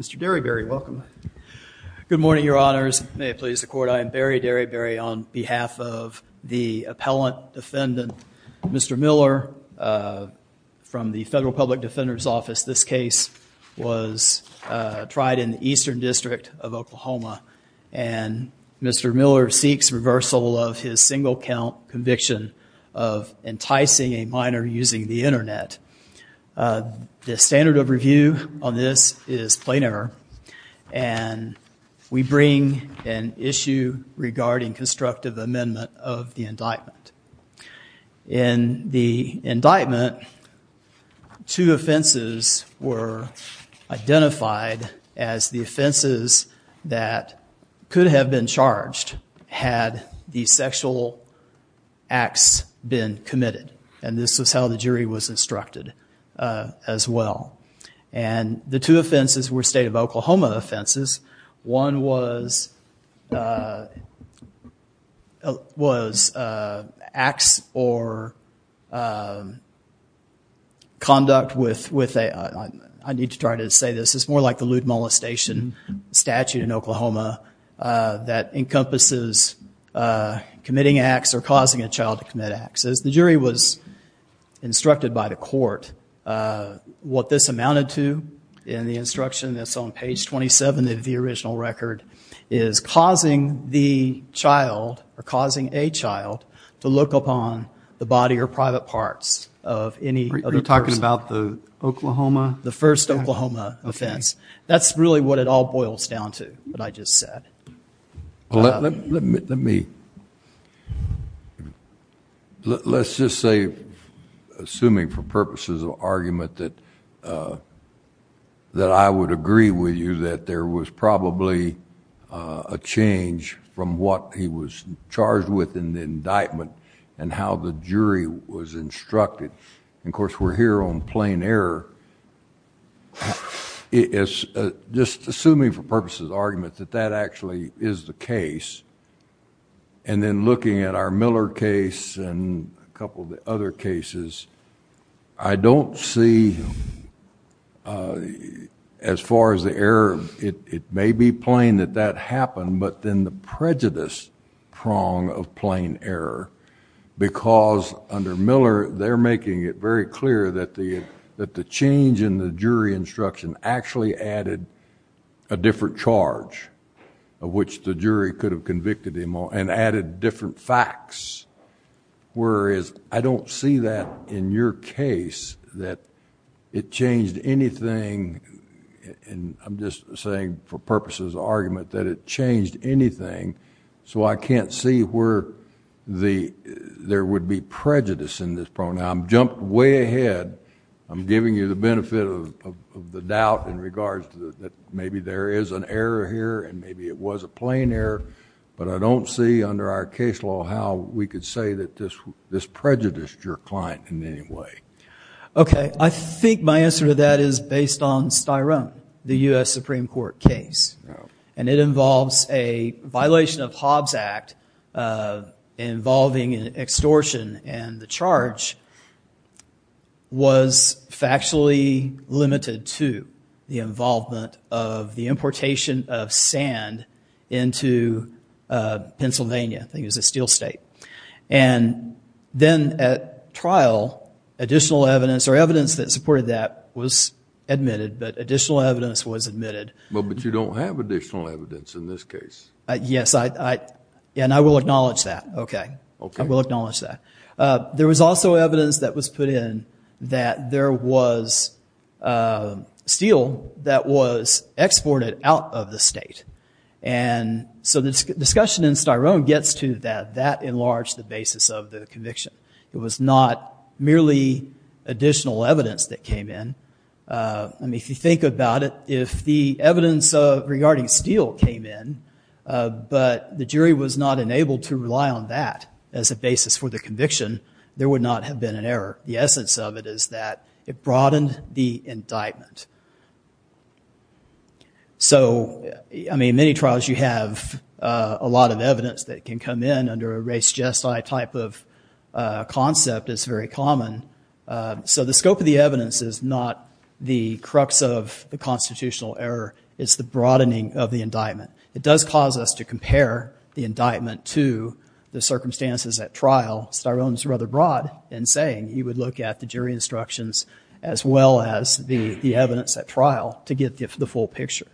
Mr. Derryberry, welcome. Good morning, your honors. May it please the court, I am Barry Derryberry on behalf of the appellant defendant Mr. Miller Davis. This case was tried in the Eastern District of Oklahoma and Mr. Miller seeks reversal of his single count conviction of enticing a minor using the internet. The standard of review on this is plain error and we bring an issue regarding constructive amendment of the indictment. In the indictment, two offenses were identified as the offenses that could have been charged had the sexual acts been committed and this is how the jury was instructed as well. And the two offenses were state of Oklahoma offenses. One was acts or conduct with a, I need to try to say this, it's more like the lewd molestation statute in Oklahoma that encompasses committing acts or causing a child to commit acts. As the jury was instructed by the court, what this amounted to in the instruction that's on page 27 of the original record is causing the child or causing a child to look upon the body or private parts of any other person. Are you talking about the Oklahoma? The first Oklahoma offense. That's really what it all boils down to, what I just said. Let me, let's just say, assuming for purposes of argument that I would agree with you that there was probably a change from what he was charged with in the indictment and how the jury was instructed, and of course we're here on plain error, just assuming for purposes of argument that that actually is the case. And then looking at our Miller case and a couple of the other cases, I don't see as far as the error, it may be plain that that happened but then the prejudice prong of plain error because under Miller, they're making it very clear that the change in the jury instruction actually added a different charge of which the jury could have convicted him on and added different facts, whereas I don't see that in your case that it changed anything. I'm just saying for purposes of argument that it changed anything, so I can't see where there would be prejudice in this prong. Now I've jumped way ahead, I'm giving you the benefit of the doubt in regards to that maybe there is an error here and maybe it was a plain error, but I don't see under our case law how we could say that this prejudiced your client in any way. Okay, I think my answer to that is based on Styrone, the U.S. Supreme Court case. And it involves a violation of Hobbs Act involving an extortion and the charge was factually limited to the involvement of the importation of sand into Pennsylvania, I think it was a steel state. And then at trial, additional evidence or evidence that supported that was admitted, but additional evidence was admitted. Well, but you don't have additional evidence in this case. Yes, and I will acknowledge that, okay, I will acknowledge that. There was also evidence that was put in that there was steel that was exported out of the state, and so the discussion in Styrone gets to that, that enlarged the basis of the conviction. It was not merely additional evidence that came in. I mean, if you think about it, if the evidence regarding steel came in, but the jury was not enabled to rely on that as a basis for the conviction, there would not have been an error. The essence of it is that it broadened the indictment. So, I mean, in many trials you have a lot of evidence that can come in under a race or a gestile type of concept, it's very common. So the scope of the evidence is not the crux of the constitutional error, it's the broadening of the indictment. It does cause us to compare the indictment to the circumstances at trial. Styrone's rather broad in saying you would look at the jury instructions as well as the evidence at trial to get the full picture.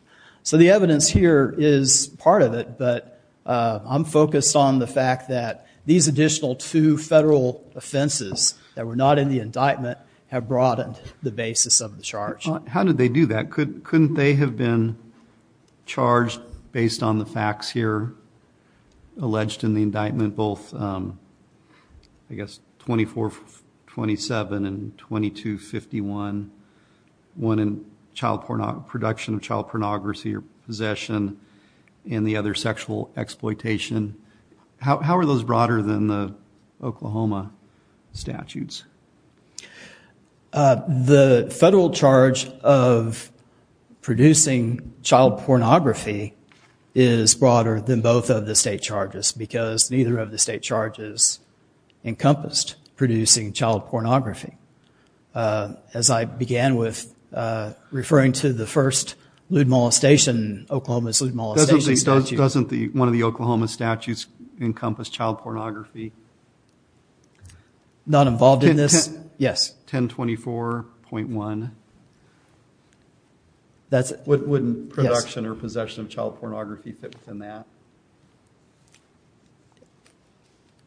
So the evidence here is part of it, but I'm focused on the fact that these additional two federal offenses that were not in the indictment have broadened the basis of the charge. How did they do that? Couldn't they have been charged based on the facts here alleged in the indictment, both I guess 2427 and 2251, one in production of child pornography or possession and the other sexual exploitation? How are those broader than the Oklahoma statutes? The federal charge of producing child pornography is broader than both of the state charges because neither of the state charges encompassed producing child pornography. As I began with referring to the first Lude Mall station, Oklahoma's Lude Mall station statute. Doesn't one of the Oklahoma statutes encompass child pornography? Not involved in this? Yes. 1024.1. Yes. Doesn't Lude production or possession of child pornography fit within that?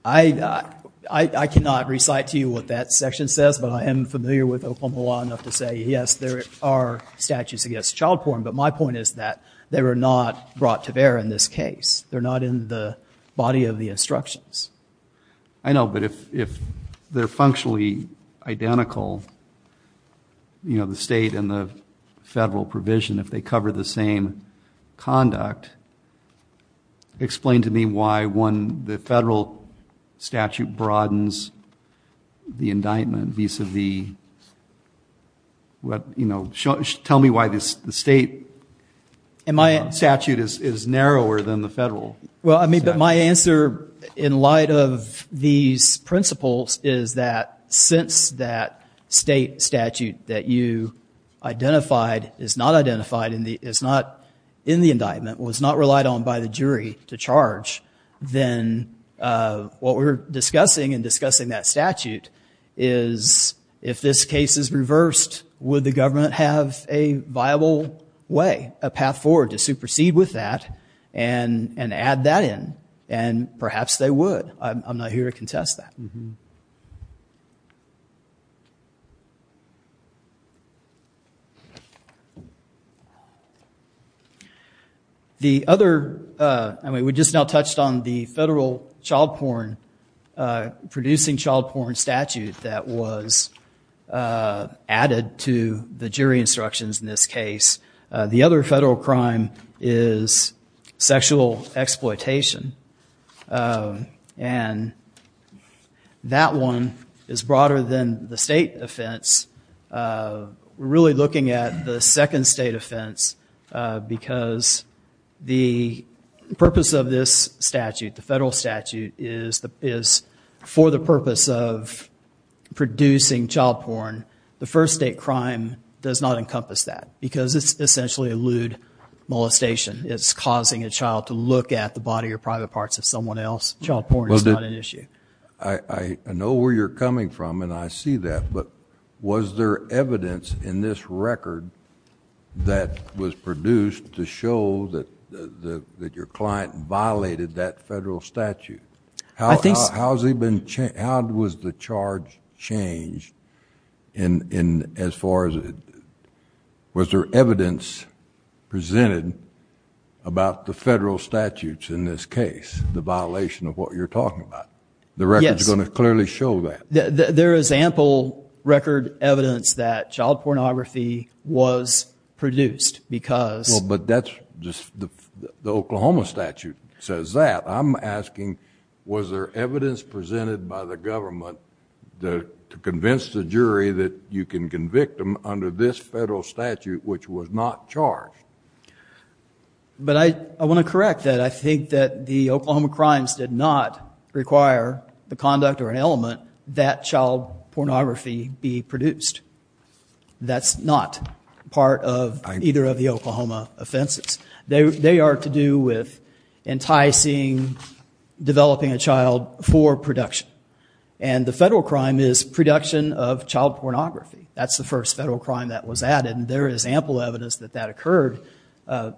I cannot recite to you what that section says, but I am familiar with Oklahoma law enough to say, yes, there are statutes against child porn, but my point is that they were not brought to bear in this case. They're not in the body of the instructions. I know, but if they're functionally identical, you know, the state and the federal provision, if they cover the same conduct, explain to me why one, the federal statute broadens the indictment vis-a-vis what, you know, tell me why this, the state statute is narrower than the federal. Well, I mean, but my answer in light of these principles is that since that state statute that you identified is not identified in the, is not in the indictment, was not relied on by the jury to charge, then what we're discussing and discussing that statute is if this case is reversed, would the government have a viable way, a path forward to supersede with that and add that in? And perhaps they would. I'm not here to contest that. The other, I mean, we just now touched on the federal child porn, producing child porn statute that was added to the jury instructions in this case. The other federal crime is sexual exploitation. And that one is broader than the state offense. We're really looking at the second state offense because the purpose of this statute, the federal statute, is for the purpose of producing child porn. The first state crime does not encompass that because it's essentially a lewd molestation. It's causing a child to look at the body or private parts of someone else. Child porn is not an issue. I know where you're coming from and I see that, but was there evidence in this record that was produced to show that your client violated that federal statute? How has he been, how was the charge changed in as far as, was there evidence presented about the federal statutes in this case, the violation of what you're talking about? The record's going to clearly show that. There is ample record evidence that child pornography was produced because. But that's just, the Oklahoma statute says that. I'm asking, was there evidence presented by the government to convince the jury that you can convict them under this federal statute, which was not charged? But I want to correct that. I think that the Oklahoma crimes did not require the conduct or an element that child pornography be produced. That's not part of either of the Oklahoma offenses. They are to do with enticing, developing a child for production. And the federal crime is production of child pornography. That's the first federal crime that was added and there is ample evidence that that occurred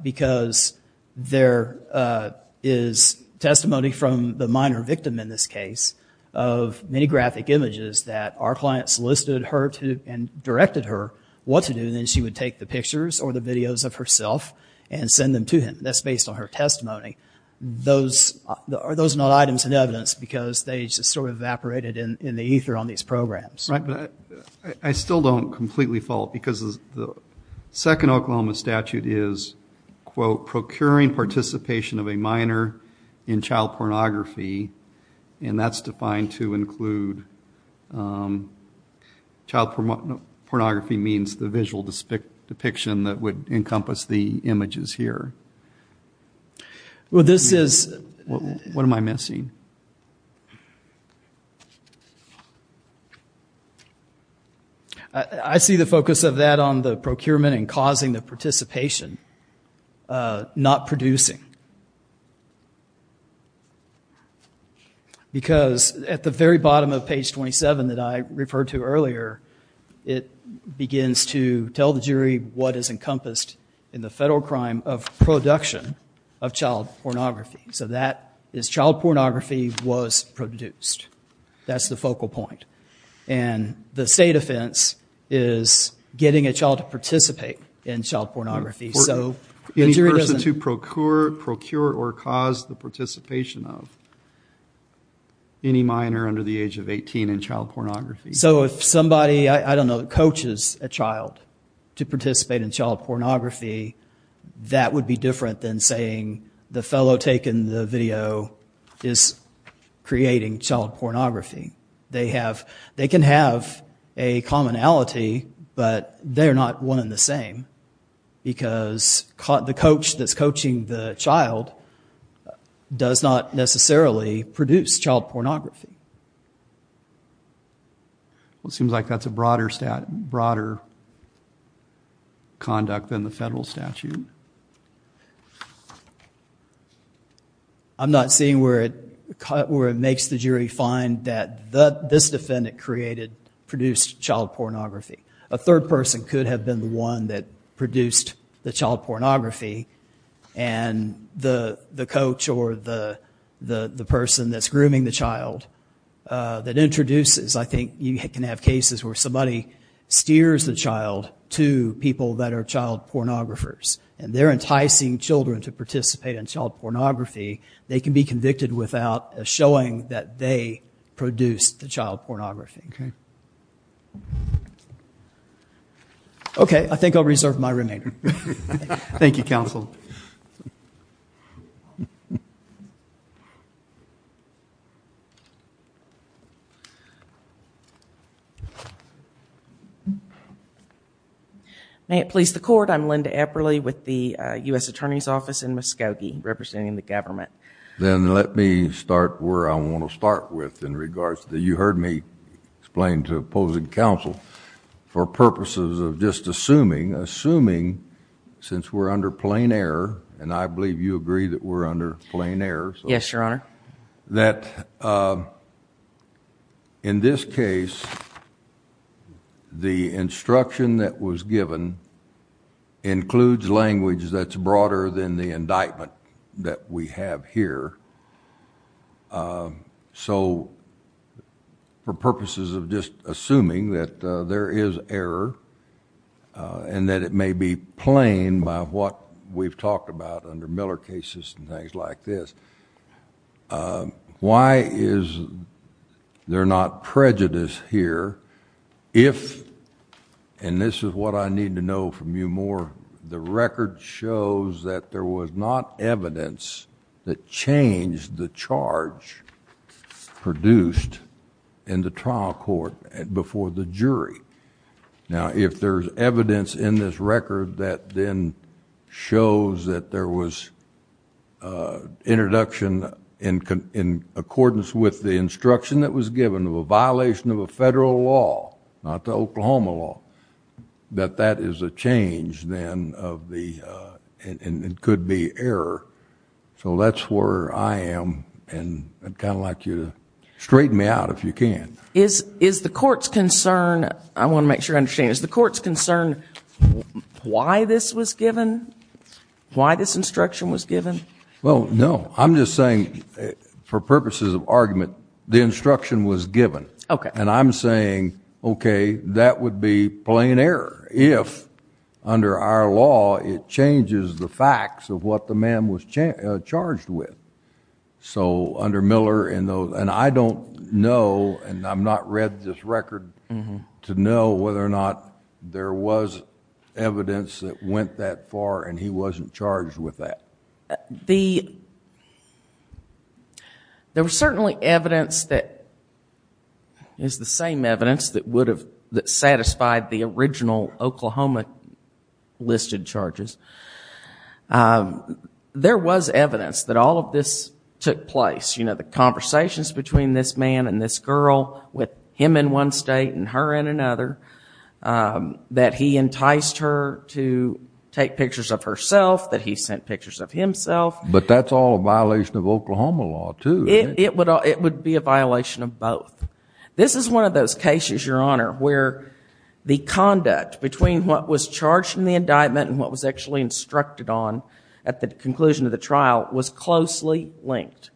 because there is testimony from the minor victim in this case of many graphic images that our client solicited her to, and directed her what to do, and then she would take the and send them to him. That's based on her testimony. Those are not items in evidence because they just sort of evaporated in the ether on these programs. Right. But I still don't completely fault because the second Oklahoma statute is, quote, procuring participation of a minor in child pornography, and that's defined to include, child pornography means the visual depiction that would encompass the images here. Well, this is... What am I missing? I see the focus of that on the procurement and causing the participation, not producing. Because at the very bottom of page 27 that I referred to earlier, it begins to tell the jury what is encompassed in the federal crime of production of child pornography. So that is, child pornography was produced. That's the focal point. And the state offense is getting a child to participate in child pornography. So the jury doesn't... Any person to procure or cause the participation of any minor under the age of 18 in child pornography. So if somebody, I don't know, coaches a child to participate in child pornography, that would be different than saying the fellow taking the video is creating child pornography. They have... They can have a commonality, but they're not one and the same because the coach that's coaching the child does not necessarily produce child pornography. Well, it seems like that's a broader conduct than the federal statute. I'm not seeing where it makes the jury find that this defendant created, produced child pornography. A third person could have been the one that produced the child pornography and the coach or the person that's grooming the child that introduces, I think you can have cases where somebody steers the child to people that are child pornographers and they're enticing children to participate in child pornography. They can be convicted without showing that they produced the child pornography. Okay. Okay. I think I'll reserve my remainder. Thank you, counsel. May it please the court. I'm Linda Eberle with the U.S. Attorney's Office in Muskogee representing the government. Then let me start where I want to start with in regards to, you heard me explain to opposing counsel for purposes of just assuming, assuming since we're under plain error, and I believe you agree that we're under plain error, that in this case, the instruction that was given includes language that's broader than the indictment that we have here, so for purposes of just assuming that there is error and that it may be plain by what we've talked about under Miller cases and things like this, why is there not prejudice here if, and this is what I need to know from you more, the record shows that there was not evidence that changed the charge produced in the trial court before the jury. Now, if there's evidence in this record that then shows that there was introduction in accordance with the instruction that was given of a violation of a federal law, not the Oklahoma law, that that is a change then of the, and it could be error, so that's where I am and I'd kind of like you to straighten me out if you can. Is the court's concern, I want to make sure I understand, is the court's concern why this was given? Why this instruction was given? Well, no. Okay. And I'm saying, okay, that would be plain error if under our law it changes the facts of what the man was charged with. So under Miller, and I don't know, and I've not read this record to know whether or not there was evidence that went that far and he wasn't charged with that. The, there was certainly evidence that is the same evidence that would have, that satisfied the original Oklahoma listed charges. There was evidence that all of this took place, you know, the conversations between this man and this girl with him in one state and her in another, that he enticed her to take pictures of herself, that he sent pictures of himself. But that's all a violation of Oklahoma law, too. It would be a violation of both. This is one of those cases, Your Honor, where the conduct between what was charged in the indictment and what was actually instructed on at the conclusion of the trial was closely linked.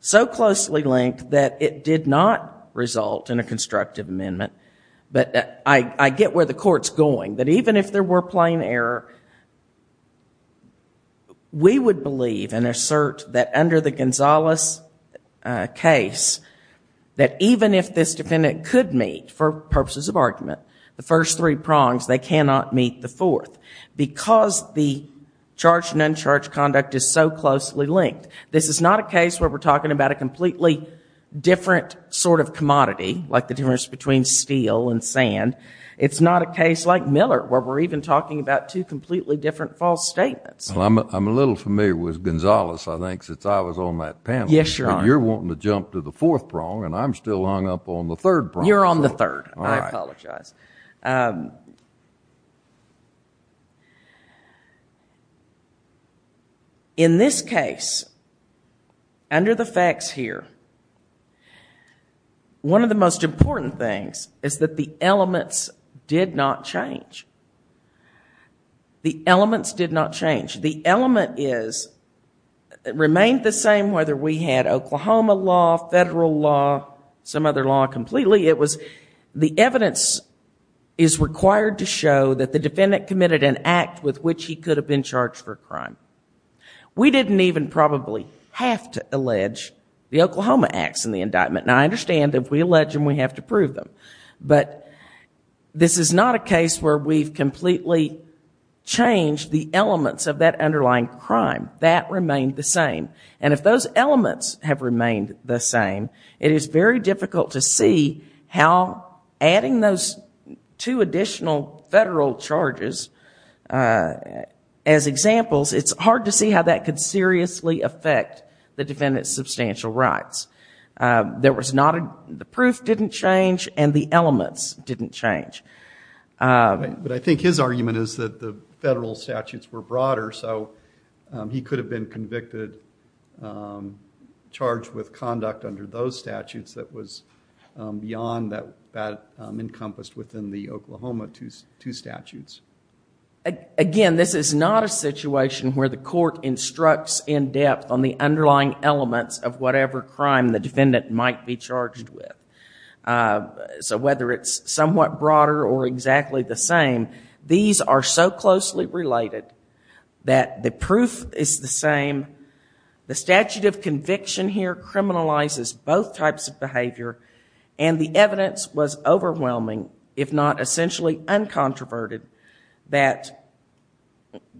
So closely linked that it did not result in a constructive amendment, but I get where the court's going, that even if there were plain error, we would believe and assert that under the Gonzalez case, that even if this defendant could meet, for purposes of argument, the first three prongs, they cannot meet the fourth because the charged and uncharged conduct is so closely linked. This is not a case where we're talking about a completely different sort of commodity, like the difference between steel and sand. It's not a case like Miller, where we're even talking about two completely different false statements. Well, I'm a little familiar with Gonzalez, I think, since I was on that panel. Yes, Your Honor. But you're wanting to jump to the fourth prong, and I'm still hung up on the third prong. All right. I apologize. In this case, under the facts here, one of the most important things is that the elements did not change. The elements did not change. The element is, it remained the same whether we had Oklahoma law, federal law, some other law, completely. The evidence is required to show that the defendant committed an act with which he could have been charged for a crime. We didn't even probably have to allege the Oklahoma acts in the indictment. Now, I understand that if we allege them, we have to prove them. But this is not a case where we've completely changed the elements of that underlying crime. That remained the same. And if those elements have remained the same, it is very difficult to see how adding those two additional federal charges as examples, it's hard to see how that could seriously affect the defendant's substantial rights. The proof didn't change, and the elements didn't change. But I think his argument is that the federal statutes were broader, so he could have been charged with conduct under those statutes that was beyond that encompassed within the Oklahoma two statutes. Again, this is not a situation where the court instructs in depth on the underlying elements of whatever crime the defendant might be charged with. So whether it's somewhat broader or exactly the same, these are so closely related that the proof is the same. The statute of conviction here criminalizes both types of behavior. And the evidence was overwhelming, if not essentially uncontroverted, that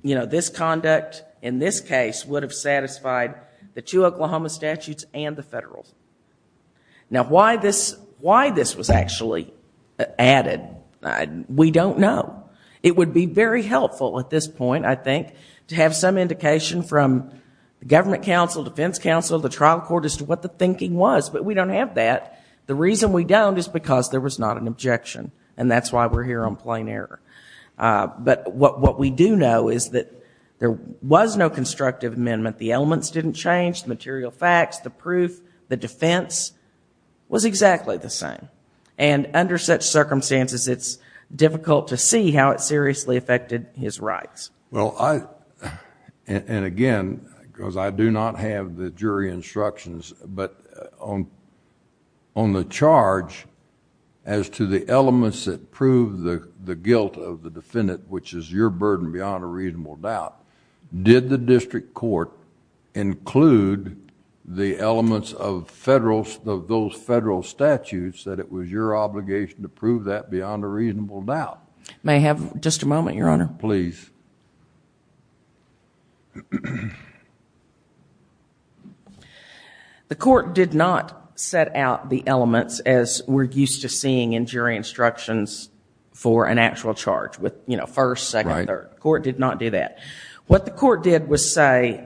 this conduct in this case would have satisfied the two Oklahoma statutes and the federal. Now why this was actually added, we don't know. It would be very helpful at this point, I think, to have some indication from the government counsel, defense counsel, the trial court as to what the thinking was, but we don't have that. The reason we don't is because there was not an objection. And that's why we're here on plain error. But what we do know is that there was no constructive amendment. The elements didn't change, the material facts, the proof, the defense was exactly the same. And under such circumstances, it's difficult to see how it seriously affected his rights. Well, and again, because I do not have the jury instructions, but on the charge as to the elements that prove the guilt of the defendant, which is your burden beyond a reasonable doubt, did the district court include the elements of those federal statutes that it was your obligation to prove that beyond a reasonable doubt? May I have just a moment, Your Honor? Please. The court did not set out the elements as we're used to seeing in jury instructions for an actual charge with first, second, third. Court did not do that. What the court did was say,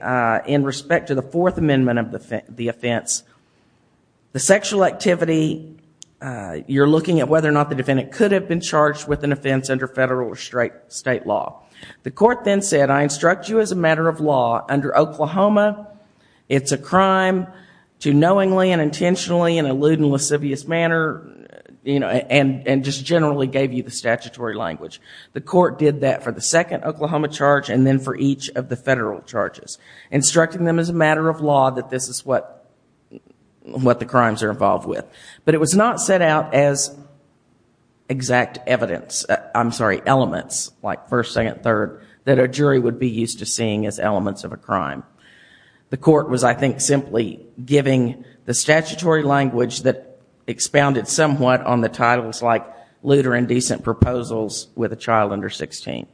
in respect to the Fourth Amendment of the offense, the sexual activity, you're looking at whether or not the defendant could have been charged with an offense under federal or state law. The court then said, I instruct you as a matter of law, under Oklahoma, it's a crime to knowingly and intentionally and in a lewd and lascivious manner, and just generally gave you the statutory language. The court did that for the second Oklahoma charge and then for each of the federal charges, instructing them as a matter of law that this is what the crimes are involved with. But it was not set out as exact evidence, I'm sorry, elements, like first, second, third, that a jury would be used to seeing as elements of a crime. The court was, I think, simply giving the statutory language that expounded somewhat on the titles like lewd or indecent proposals with a child under 16.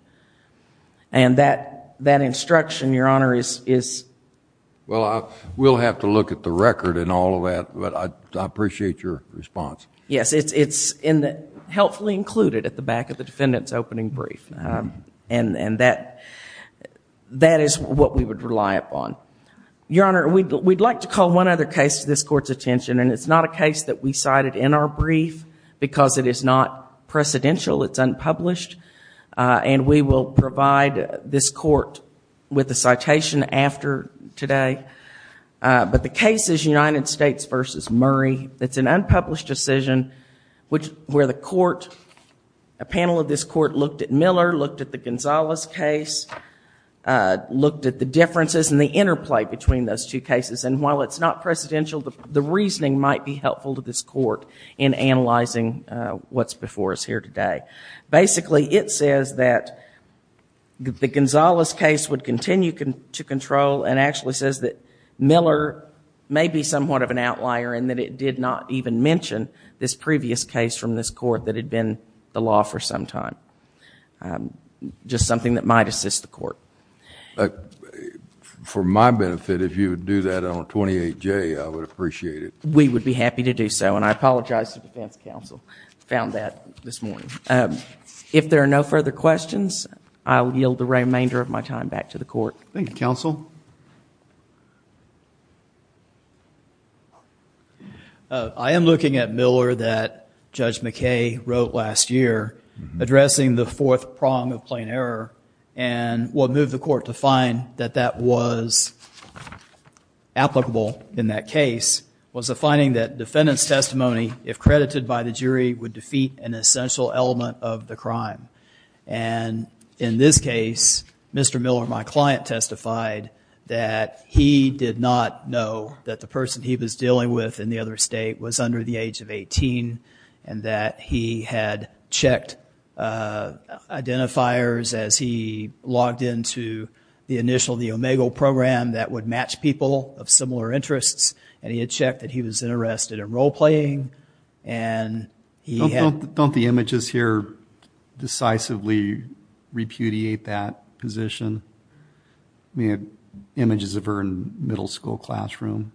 And that instruction, Your Honor, is... Well, we'll have to look at the record and all of that, but I appreciate your response. Yes, it's helpfully included at the back of the defendant's opening brief. And that is what we would rely upon. Your Honor, we'd like to call one other case to this Court's attention, and it's not a case that we cited in our brief because it is not precedential, it's unpublished. And we will provide this Court with a citation after today. But the case is United States v. Murray. It's an unpublished decision where the Court, a panel of this Court, looked at Miller, looked at the Gonzalez case, looked at the differences and the interplay between those two cases. And while it's not precedential, the reasoning might be helpful to this Court in analyzing what's before us here today. Basically, it says that the Gonzalez case would continue to control and actually says that Miller may be somewhat of an outlier and that it did not even mention this previous case from this Court that had been the law for some time. Just something that might assist the Court. For my benefit, if you would do that on 28J, I would appreciate it. We would be happy to do so. And I apologize to the defense counsel. I found that this morning. If there are no further questions, I will yield the remainder of my time back to the Court. Thank you, counsel. I am looking at Miller that Judge McKay wrote last year, addressing the fourth prong of plain error. And what moved the Court to find that that was applicable in that case was the finding that defendant's testimony, if credited by the jury, would defeat an essential element of the crime. And in this case, Mr. Miller, my client, testified that he did not know that the person he was dealing with in the other state was under the age of 18 and that he had checked identifiers as he logged into the initial, the OMEGO program that would match people of similar interests. And he had checked that he was interested in role playing. And he had... Don't the images here decisively repudiate that position? I mean, images of her in middle school classroom.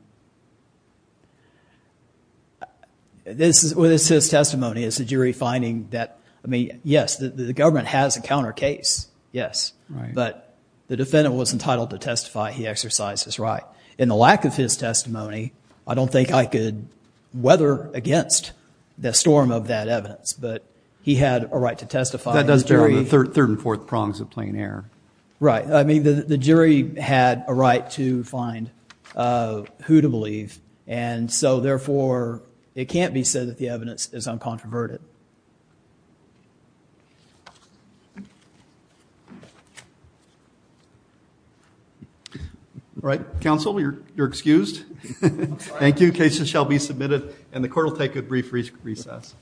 This is his testimony. It's a jury finding that, I mean, yes, the government has a counter case. Yes. But the defendant was entitled to testify. He exercised his right. In the lack of his testimony, I don't think I could weather against the storm of that evidence. But he had a right to testify. That does bear on the third and fourth prongs of plain error. Right. I mean, the jury had a right to find who to believe. And so, therefore, it can't be said that the evidence is uncontroverted. All right. Counsel, you're excused. Thank you. Cases shall be submitted and the court will take a brief recess.